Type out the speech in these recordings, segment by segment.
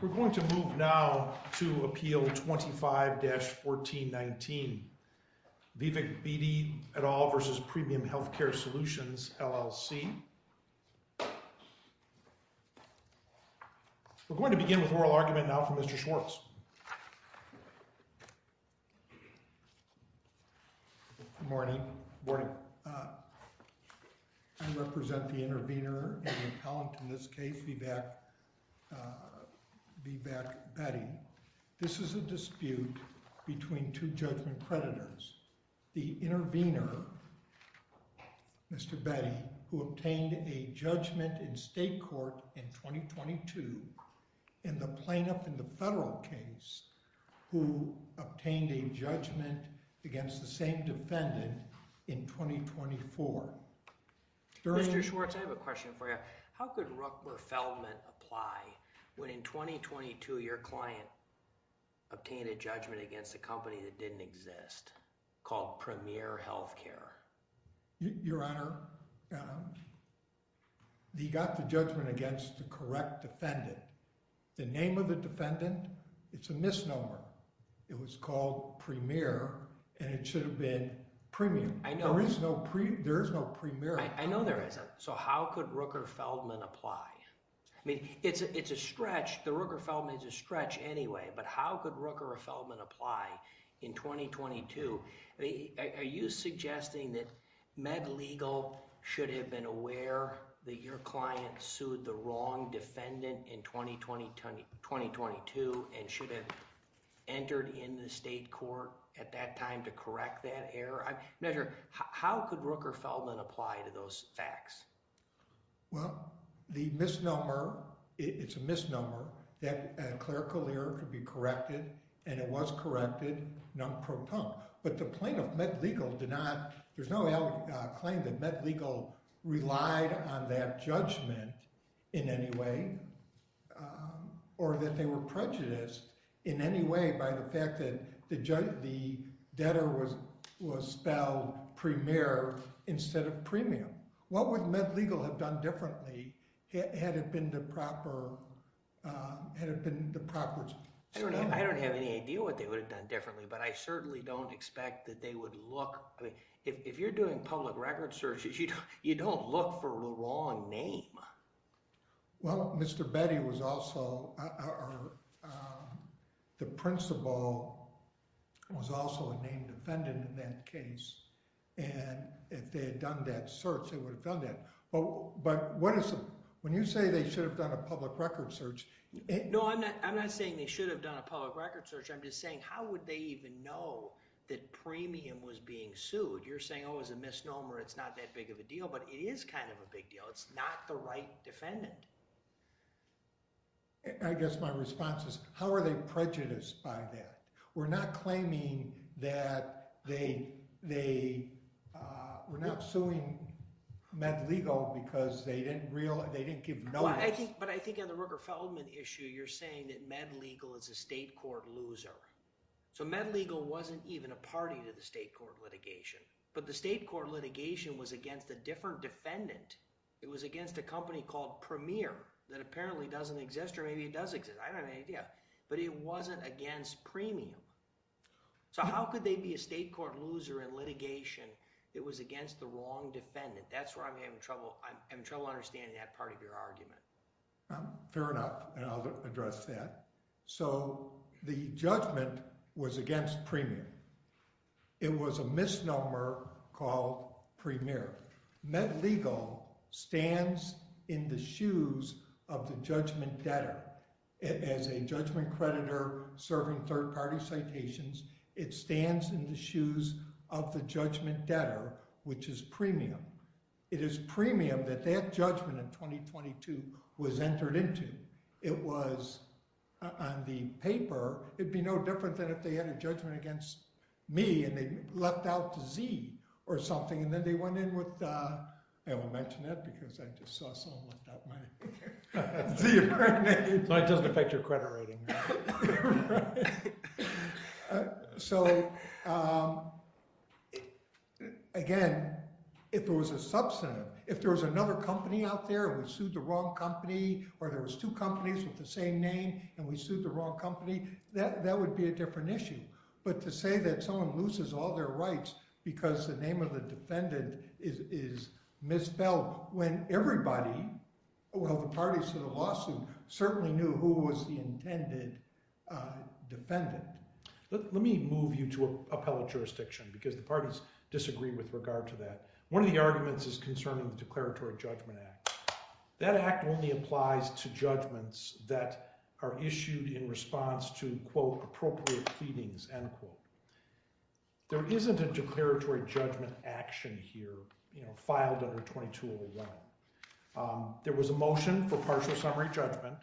We're going to move now to Appeal 25-1419, Vivek Bedi et al. v. Premium Healthcare Solutions, LLC. We're going to begin with oral argument now from Mr. Schwartz. Good morning. I represent the intervener and the appellant in this case, Vivek Bedi. This is a dispute between two judgment creditors. The intervener, Mr. Bedi, who obtained a judgment in state court in 2022, and the plaintiff in the federal case who obtained a judgment against the same defendant in 2024. Mr. Schwartz, I have a question for you. How could Rook Verfeldman apply when in 2022 your client obtained a judgment against a company that didn't exist called Premier Healthcare? Your Honor, he got the judgment against the correct defendant. The name of the defendant, it's a misnomer. It was called Premier and it should have been Premium. There is no Premier. I know there isn't. So how could Rook Verfeldman apply? I mean, it's a stretch. The Rook Verfeldman is a stretch anyway, but how could Rook Verfeldman apply in 2022? Are you suggesting that MedLegal should have been aware that your client sued the wrong defendant in 2022 and should have entered in the state court at that time to correct that error? Measure, how could Rook Verfeldman apply to those facts? Well, the misnomer, it's a misnomer. That clerical error could be corrected and it was corrected non-proton. But the plaintiff, MedLegal, did not – there's no claim that MedLegal relied on that judgment in any way or that they were prejudiced in any way by the fact that the debtor was spelled Premier instead of Premium. What would MedLegal have done differently had it been the proper – had it been the proper – I don't have any idea what they would have done differently, but I certainly don't expect that they would look – I mean, if you're doing public record searches, you don't look for the wrong name. Well, Mr. Betty was also – the principal was also a named defendant in that case, and if they had done that search, they would have done that. But what is – when you say they should have done a public record search – No, I'm not saying they should have done a public record search. I'm just saying how would they even know that Premium was being sued? You're saying, oh, it's a misnomer. It's not that big of a deal, but it is kind of a big deal. It's not the right defendant. I guess my response is how are they prejudiced by that? We're not claiming that they – we're not suing MedLegal because they didn't give notice. But I think on the Rooker-Feldman issue, you're saying that MedLegal is a state court loser. So MedLegal wasn't even a party to the state court litigation, but the state court litigation was against a different defendant. It was against a company called Premier that apparently doesn't exist, or maybe it does exist. I don't have any idea. But it wasn't against Premium. So how could they be a state court loser in litigation that was against the wrong defendant? That's where I'm having trouble – I'm having trouble understanding that part of your argument. Fair enough, and I'll address that. So the judgment was against Premium. It was a misnomer called Premier. MedLegal stands in the shoes of the judgment debtor. As a judgment creditor serving third-party citations, it stands in the shoes of the judgment debtor, which is Premium. It is Premium that that judgment in 2022 was entered into. It was – on the paper, it would be no different than if they had a judgment against me and they left out the Z or something, and then they went in with – I won't mention that because I just saw someone left out my Z or something. It doesn't affect your credit rating. So again, if there was a substantive – if there was another company out there and we sued the wrong company, or there was two companies with the same name and we sued the wrong company, that would be a different issue. But to say that someone loses all their rights because the name of the defendant is misspelled when everybody – well, the parties to the lawsuit certainly knew who was the intended defendant. Let me move you to appellate jurisdiction because the parties disagree with regard to that. One of the arguments is concerning the Declaratory Judgment Act. That act only applies to judgments that are issued in response to, quote, appropriate pleadings, end quote. There isn't a declaratory judgment action here filed under 2201. There was a motion for partial summary judgment.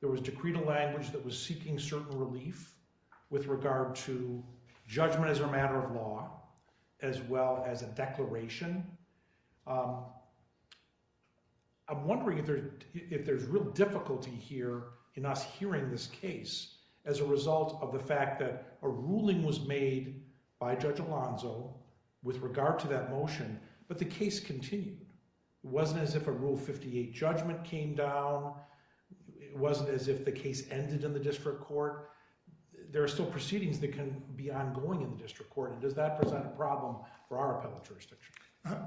There was decreed a language that was seeking certain relief with regard to judgment as a matter of law as well as a declaration. I'm wondering if there's real difficulty here in us hearing this case as a result of the fact that a ruling was made by Judge Alonzo with regard to that motion, but the case continued. It wasn't as if a Rule 58 judgment came down. It wasn't as if the case ended in the district court. There are still proceedings that can be ongoing in the district court, and does that present a problem for our appellate jurisdiction?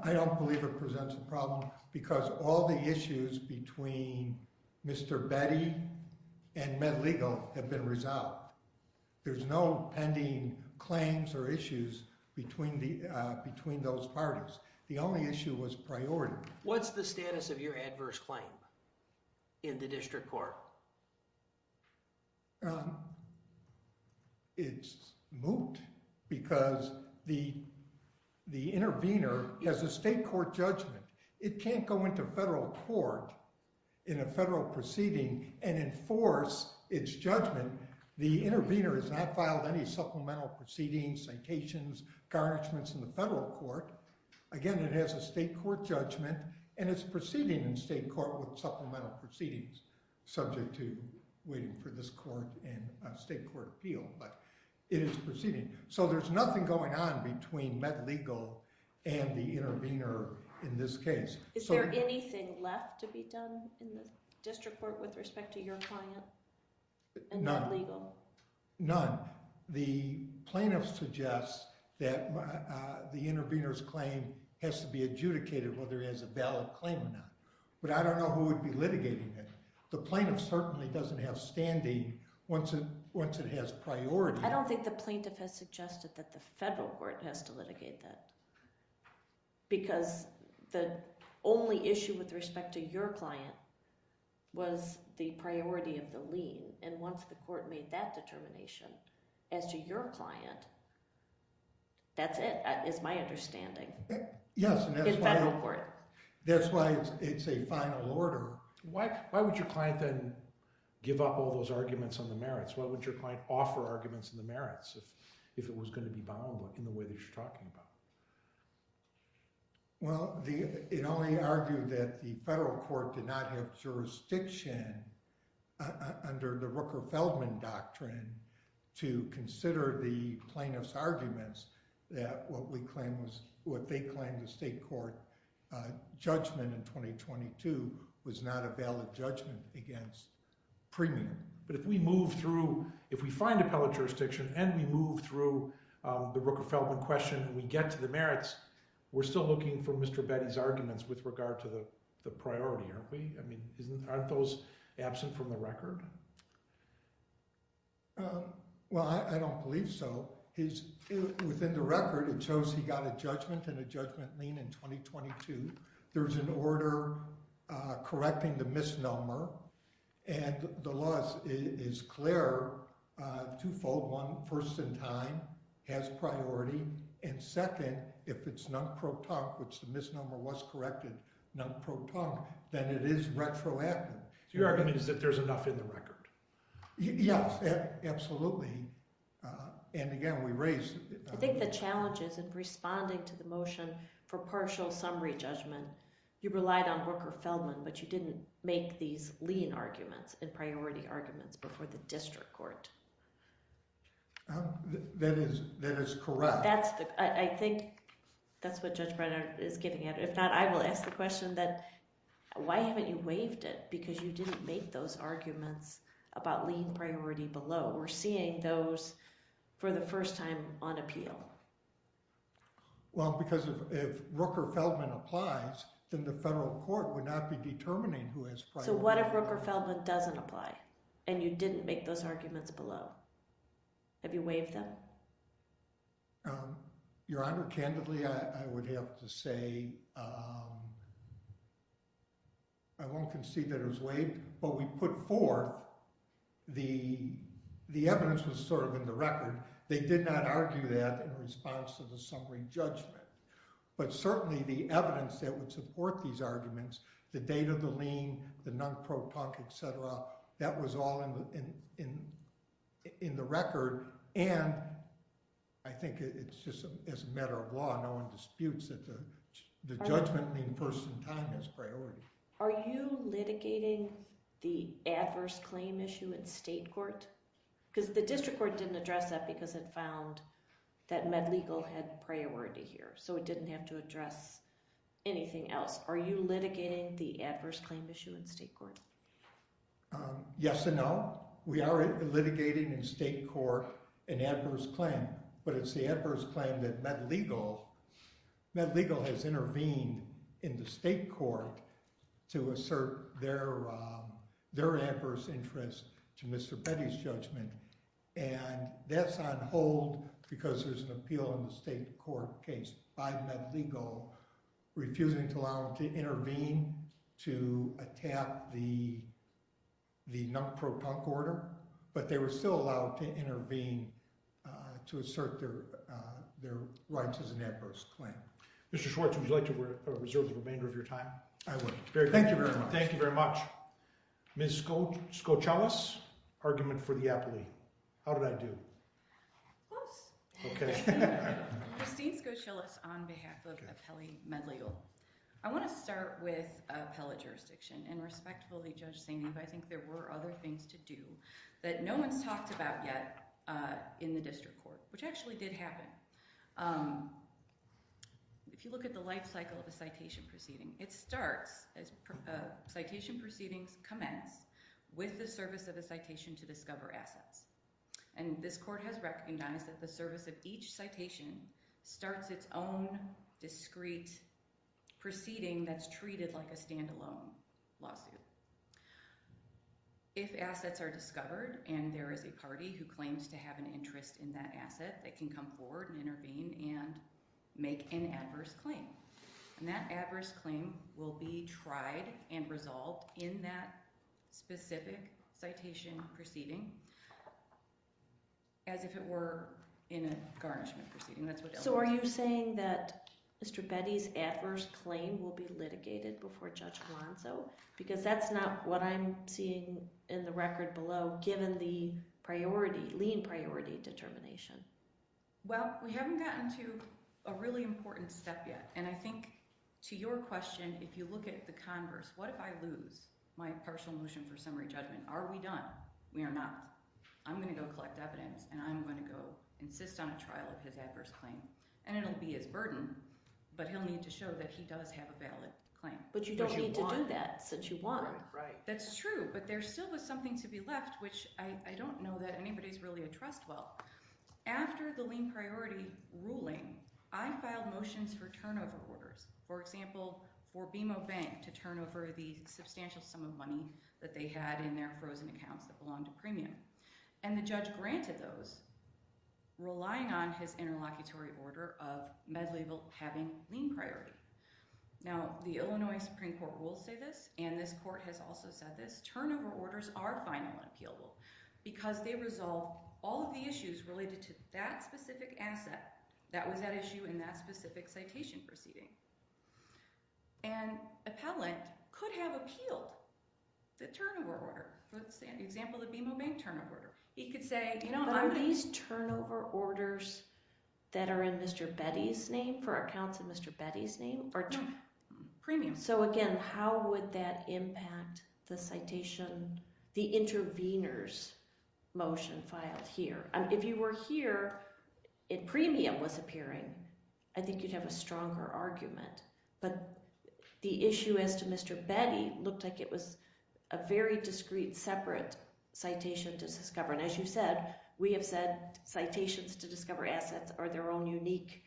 I don't believe it presents a problem because all the issues between Mr. Betty and MedLegal have been resolved. There's no pending claims or issues between those parties. The only issue was priority. What's the status of your adverse claim in the district court? It's moot because the intervener has a state court judgment. It can't go into federal court in a federal proceeding and enforce its judgment. The intervener has not filed any supplemental proceedings, citations, or garnishments in the federal court. Again, it has a state court judgment, and it's proceeding in state court with supplemental proceedings subject to waiting for this court and state court appeal. It is proceeding, so there's nothing going on between MedLegal and the intervener in this case. Is there anything left to be done in the district court with respect to your client? None. The plaintiff suggests that the intervener's claim has to be adjudicated whether he has a valid claim or not, but I don't know who would be litigating it. The plaintiff certainly doesn't have standing once it has priority. I don't think the plaintiff has suggested that the federal court has to litigate that because the only issue with respect to your client was the priority of the lien, and once the court made that determination as to your client, that's it is my understanding in federal court. That's why it's a final order. Why would your client then give up all those arguments on the merits? What would your client offer arguments on the merits if it was going to be bound in the way that you're talking about? Well, it only argued that the federal court did not have jurisdiction under the Rooker-Feldman doctrine to consider the plaintiff's arguments that what they claimed the state court judgment in 2022 was not a valid judgment against premium. But if we find appellate jurisdiction and we move through the Rooker-Feldman question and we get to the merits, we're still looking for Mr. Betty's arguments with regard to the priority, aren't we? Aren't those absent from the record? Well, I don't believe so. Within the record, it shows he got a judgment and a judgment lien in 2022. There's an order correcting the misnomer, and the law is clear, twofold. One, first in time has priority, and second, if it's non-propunct, which the misnomer was corrected, non-propunct, then it is retroactive. So your argument is that there's enough in the record? Yes, absolutely. I think the challenge is in responding to the motion for partial summary judgment, you relied on Rooker-Feldman, but you didn't make these lien arguments and priority arguments before the district court. That is correct. I think that's what Judge Brenner is getting at. If not, I will ask the question that why haven't you waived it? Because you didn't make those arguments about lien priority below. We're seeing those for the first time on appeal. Well, because if Rooker-Feldman applies, then the federal court would not be determining who has priority. So what if Rooker-Feldman doesn't apply and you didn't make those arguments below? Have you waived them? Your Honor, candidly, I would have to say I won't concede that it was waived. What we put forth, the evidence was sort of in the record. They did not argue that in response to the summary judgment. But certainly the evidence that would support these arguments, the date of the lien, the non-propunct, etc., that was all in the record. And I think it's just as a matter of law, no one disputes that the judgment lien first in time has priority. Are you litigating the adverse claim issue in state court? Because the district court didn't address that because it found that med legal had priority here. So it didn't have to address anything else. Are you litigating the adverse claim issue in state court? Yes and no. We are litigating in state court an adverse claim. But it's the adverse claim that med legal has intervened in the state court to assert their adverse interest to Mr. Petty's judgment. And that's on hold because there's an appeal in the state court case by med legal refusing to intervene to attack the non-propunct order. But they were still allowed to intervene to assert their rights as an adverse claim. Mr. Schwartz, would you like to reserve the remainder of your time? I would. Thank you very much. Ms. Skocelis, argument for the appellee. How did I do? Close. Okay. Christine Skocelis on behalf of appellee med legal. I want to start with appellate jurisdiction. And respectfully, Judge Sainov, I think there were other things to do that no one's talked about yet in the district court, which actually did happen. If you look at the life cycle of a citation proceeding, it starts as citation proceedings commence with the service of a citation to discover assets. And this court has recognized that the service of each citation starts its own discrete proceeding that's treated like a standalone lawsuit. If assets are discovered and there is a party who claims to have an interest in that asset, they can come forward and intervene and make an adverse claim. And that adverse claim will be tried and resolved in that specific citation proceeding as if it were in a garnishment proceeding. So are you saying that Mr. Betty's adverse claim will be litigated before Judge Galanso? Because that's not what I'm seeing in the record below given the priority, lien priority determination. Well, we haven't gotten to a really important step yet. And I think to your question, if you look at the converse, what if I lose my partial motion for summary judgment? Are we done? We are not. I'm going to go collect evidence, and I'm going to go insist on a trial of his adverse claim. And it will be his burden, but he'll need to show that he does have a valid claim. But you don't need to do that since you won. Right, right. That's true, but there still was something to be left, which I don't know that anybody has really addressed well. After the lien priority ruling, I filed motions for turnover orders, for example, for BMO Bank to turn over the substantial sum of money that they had in their frozen accounts that belonged to premium. And the judge granted those, relying on his interlocutory order of MedLabel having lien priority. Now, the Illinois Supreme Court will say this, and this court has also said this. Turnover orders are final and appealable because they resolve all of the issues related to that specific asset that was at issue in that specific citation proceeding. And appellant could have appealed the turnover order. Let's say an example, the BMO Bank turnover order. He could say— Are these turnover orders that are in Mr. Betty's name, for accounts in Mr. Betty's name? Premium. So again, how would that impact the citation—the intervener's motion filed here? If you were here and premium was appearing, I think you'd have a stronger argument. But the issue as to Mr. Betty looked like it was a very discrete, separate citation to discover. And as you said, we have said citations to discover assets are their own unique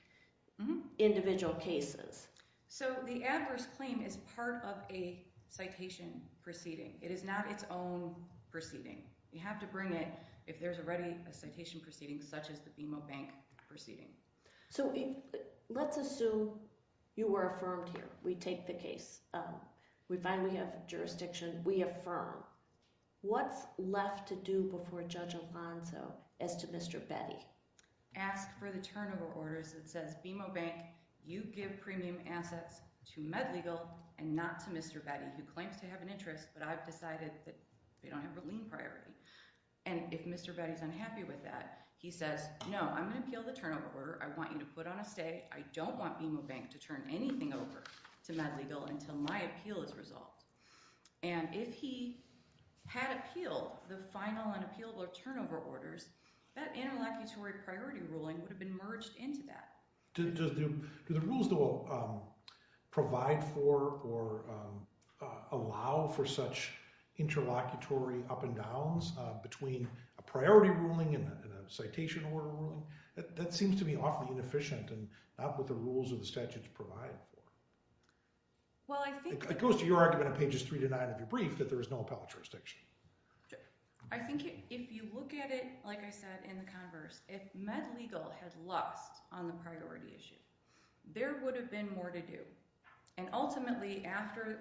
individual cases. So the adverse claim is part of a citation proceeding. It is not its own proceeding. You have to bring it if there's already a citation proceeding such as the BMO Bank proceeding. So let's assume you were affirmed here. We take the case. We find we have jurisdiction. We affirm. What's left to do before Judge Alonzo as to Mr. Betty? Ask for the turnover orders that says BMO Bank, you give premium assets to MedLegal and not to Mr. Betty, who claims to have an interest but I've decided that they don't have a lien priority. And if Mr. Betty is unhappy with that, he says, no, I'm going to appeal the turnover order. I want you to put on a stay. I don't want BMO Bank to turn anything over to MedLegal until my appeal is resolved. And if he had appealed the final and appealable turnover orders, that interlocutory priority ruling would have been merged into that. Do the rules provide for or allow for such interlocutory up and downs between a priority ruling and a citation order ruling? That seems to be awfully inefficient and not what the rules of the statutes provide for. It goes to your argument on pages three to nine of your brief that there is no appellate jurisdiction. I think if you look at it, like I said, in the converse, if MedLegal had lost on the priority issue, there would have been more to do. And ultimately, after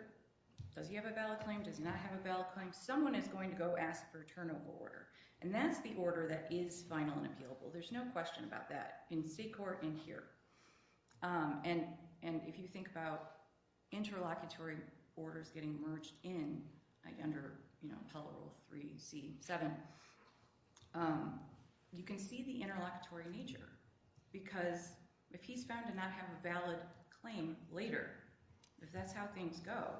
does he have a valid claim, does not have a valid claim, someone is going to go ask for a turnover order. And that's the order that is final and appealable. There's no question about that in state court and here. And if you think about interlocutory orders getting merged in under Appellate Rule 3C7, you can see the interlocutory nature. Because if he's found to not have a valid claim later, if that's how things go,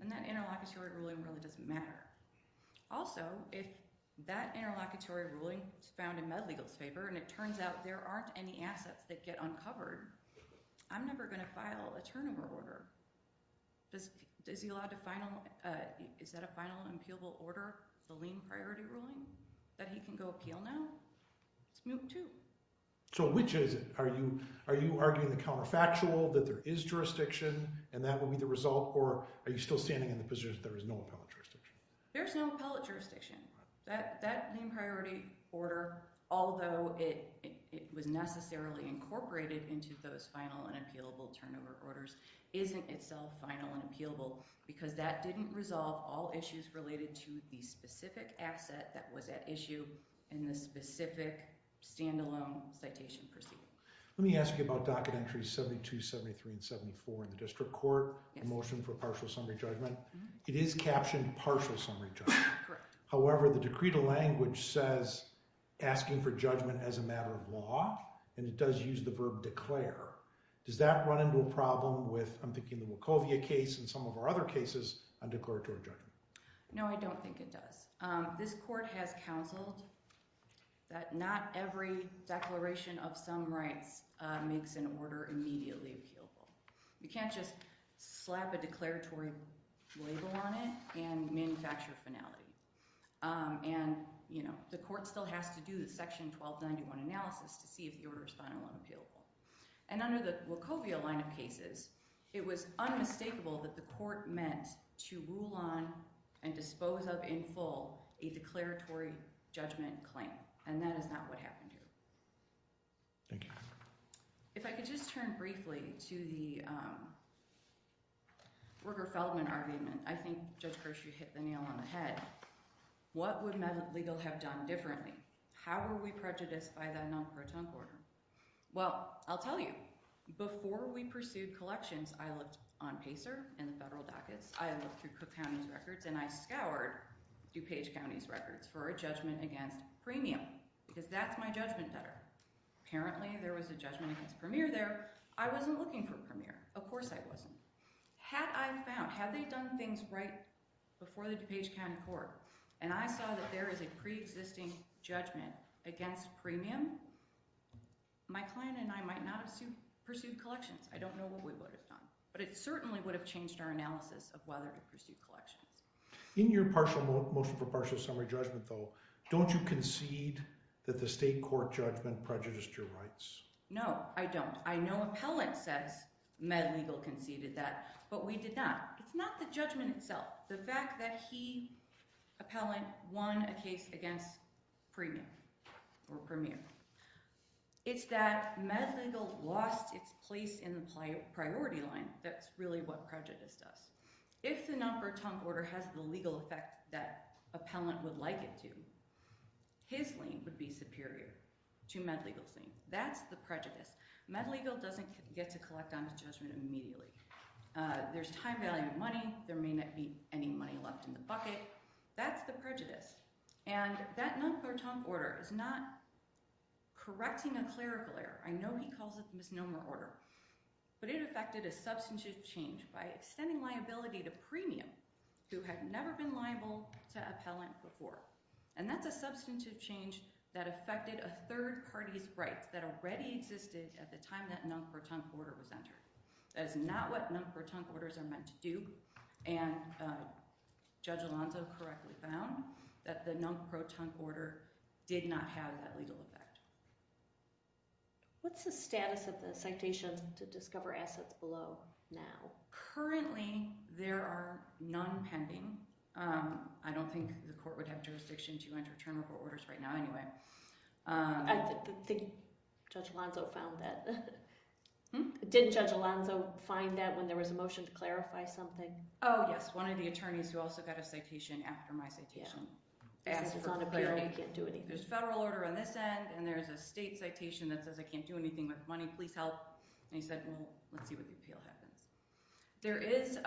then that interlocutory ruling really doesn't matter. Also, if that interlocutory ruling is found in MedLegal's favor and it turns out there aren't any assets that get uncovered, I'm never going to file a turnover order. Is that a final and appealable order, the lien priority ruling, that he can go appeal now? It's Moot 2. So which is it? Are you arguing the counterfactual that there is jurisdiction and that would be the result, or are you still standing in the position that there is no appellate jurisdiction? There's no appellate jurisdiction. That lien priority order, although it was necessarily incorporated into those final and appealable turnover orders, isn't itself final and appealable. Because that didn't resolve all issues related to the specific asset that was at issue in the specific stand-alone citation proceeding. Let me ask you about Docket Entries 72, 73, and 74 in the District Court, the motion for Partial Summary Judgment. It is captioned Partial Summary Judgment. Correct. However, the Decree to Language says, asking for judgment as a matter of law, and it does use the verb declare. Does that run into a problem with, I'm thinking, the Wachovia case and some of our other cases on declaratory judgment? No, I don't think it does. This court has counseled that not every declaration of some rights makes an order immediately appealable. You can't just slap a declaratory label on it and manufacture a finality. The court still has to do the Section 1291 analysis to see if the order is final and appealable. Under the Wachovia line of cases, it was unmistakable that the court meant to rule on and dispose of in full a declaratory judgment claim. That is not what happened here. Thank you. If I could just turn briefly to the Ruger-Feldman argument. I think Judge Kirsch, you hit the nail on the head. What would legal have done differently? How would we prejudice by that non-protonc order? Well, I'll tell you. Before we pursued collections, I looked on PACER and the federal dockets. I looked through Cook County's records, and I scoured DuPage County's records for a judgment against premium, because that's my judgment debtor. Apparently, there was a judgment against premier there. I wasn't looking for premier. Of course I wasn't. Had I found—had they done things right before the DuPage County court, and I saw that there is a preexisting judgment against premium, my client and I might not have pursued collections. I don't know what we would have done, but it certainly would have changed our analysis of whether to pursue collections. In your motion for partial summary judgment, though, don't you concede that the state court judgment prejudiced your rights? No, I don't. I know appellant says MedLegal conceded that, but we did not. It's not the judgment itself. The fact that he, appellant, won a case against premium or premier, it's that MedLegal lost its place in the priority line. That's really what prejudice does. If the nonpartum order has the legal effect that appellant would like it to, his lien would be superior to MedLegal's lien. That's the prejudice. MedLegal doesn't get to collect on his judgment immediately. There's time value of money. There may not be any money left in the bucket. That's the prejudice, and that nonpartum order is not correcting a clerical error. I know he calls it the misnomer order, but it affected a substantive change by extending liability to premium who had never been liable to appellant before. And that's a substantive change that affected a third party's rights that already existed at the time that nonpartum order was entered. That is not what nonpartum orders are meant to do, and Judge Alonzo correctly found that the nonpartum order did not have that legal effect. What's the status of the citations to discover assets below now? Currently, there are none pending. I don't think the court would have jurisdiction to enter term report orders right now anyway. I think Judge Alonzo found that. Did Judge Alonzo find that when there was a motion to clarify something? Oh, yes, one of the attorneys who also got a citation after my citation asked for clarity. There's a federal order on this end, and there's a state citation that says I can't do anything with money. Please help. And he said, well, let's see what the appeal happens. There is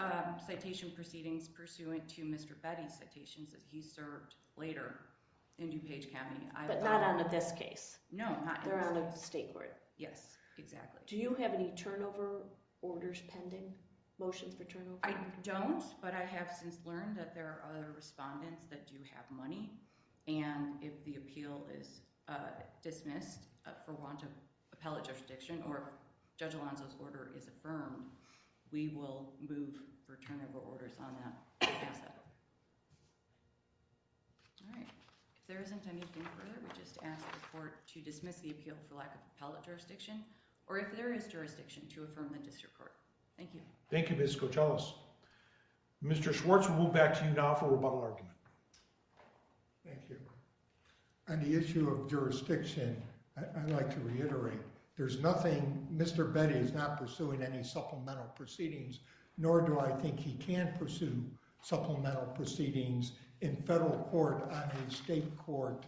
citation proceedings pursuant to Mr. Betty's citations that he served later in DuPage County. But not on this case. No, not in this case. They're on a state court. Yes, exactly. Do you have any turnover orders pending, motions for turnover? I don't, but I have since learned that there are other respondents that do have money. And if the appeal is dismissed for want of appellate jurisdiction or Judge Alonzo's order is affirmed, we will move for turnover orders on that. All right. If there isn't anything further, we just ask the court to dismiss the appeal for lack of appellate jurisdiction, or if there is jurisdiction, to affirm the district court. Thank you. Thank you, Ms. Coachellis. Mr. Schwartz, we'll move back to you now for rebuttal argument. Thank you. On the issue of jurisdiction, I'd like to reiterate there's nothing. Mr. Betty is not pursuing any supplemental proceedings, nor do I think he can pursue supplemental proceedings in federal court on a state court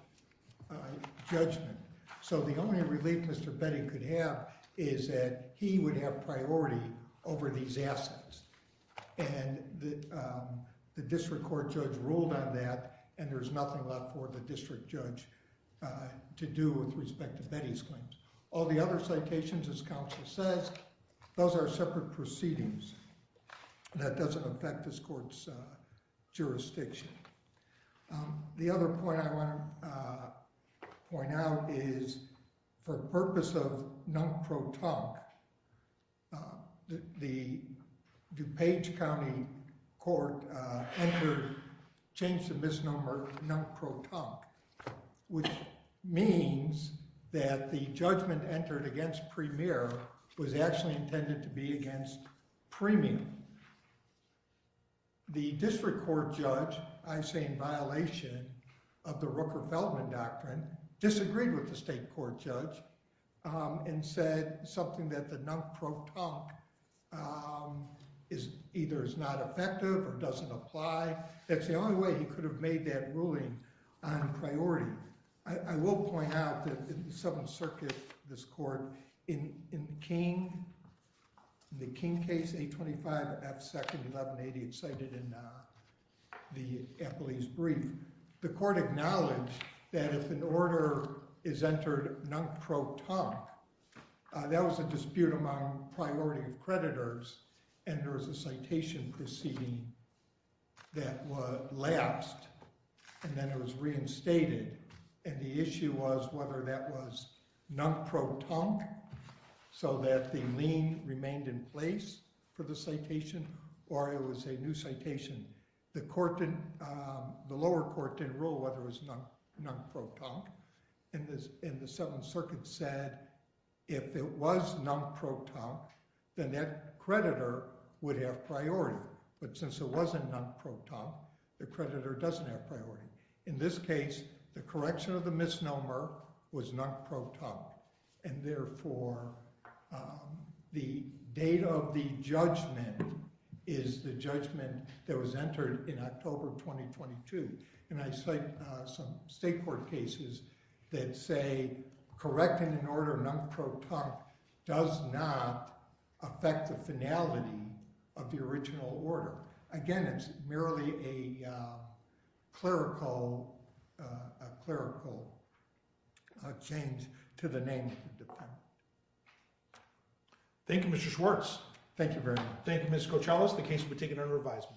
judgment. So the only relief Mr. Betty could have is that he would have priority over these assets. And the district court judge ruled on that, and there's nothing left for the district judge to do with respect to Betty's claims. All the other citations, as counsel says, those are separate proceedings. That doesn't affect this court's jurisdiction. The other point I want to point out is for purpose of non-pro-tonk, the DuPage County Court entered, changed the misnomer non-pro-tonk, which means that the judgment entered against Premier was actually intended to be against Premium. The district court judge, I say in violation of the Rooker-Feldman Doctrine, disagreed with the state court judge and said something that the non-pro-tonk either is not effective or doesn't apply. That's the only way he could have made that ruling on priority. I will point out that in the Seventh Circuit, this court, in the King case, 825 F. 2nd, 1180, it's cited in the appellee's brief. The court acknowledged that if an order is entered non-pro-tonk, that was a dispute among priority creditors, and there was a citation proceeding that lapsed, and then it was reinstated, and the issue was whether that was non-pro-tonk so that the lien remained in place for the citation, or it was a new citation. The lower court didn't rule whether it was non-pro-tonk, and the Seventh Circuit said if it was non-pro-tonk, then that creditor would have priority, but since it wasn't non-pro-tonk, the creditor doesn't have priority. In this case, the correction of the misnomer was non-pro-tonk, and therefore the date of the judgment is the judgment that was entered in October 2022, and I cite some state court cases that say correcting an order non-pro-tonk does not affect the finality of the original order. Again, it's merely a clerical change to the name of the defendant. Thank you, Mr. Schwartz. Thank you very much. Thank you, Ms. Cochellos. The case will be taken under revisal.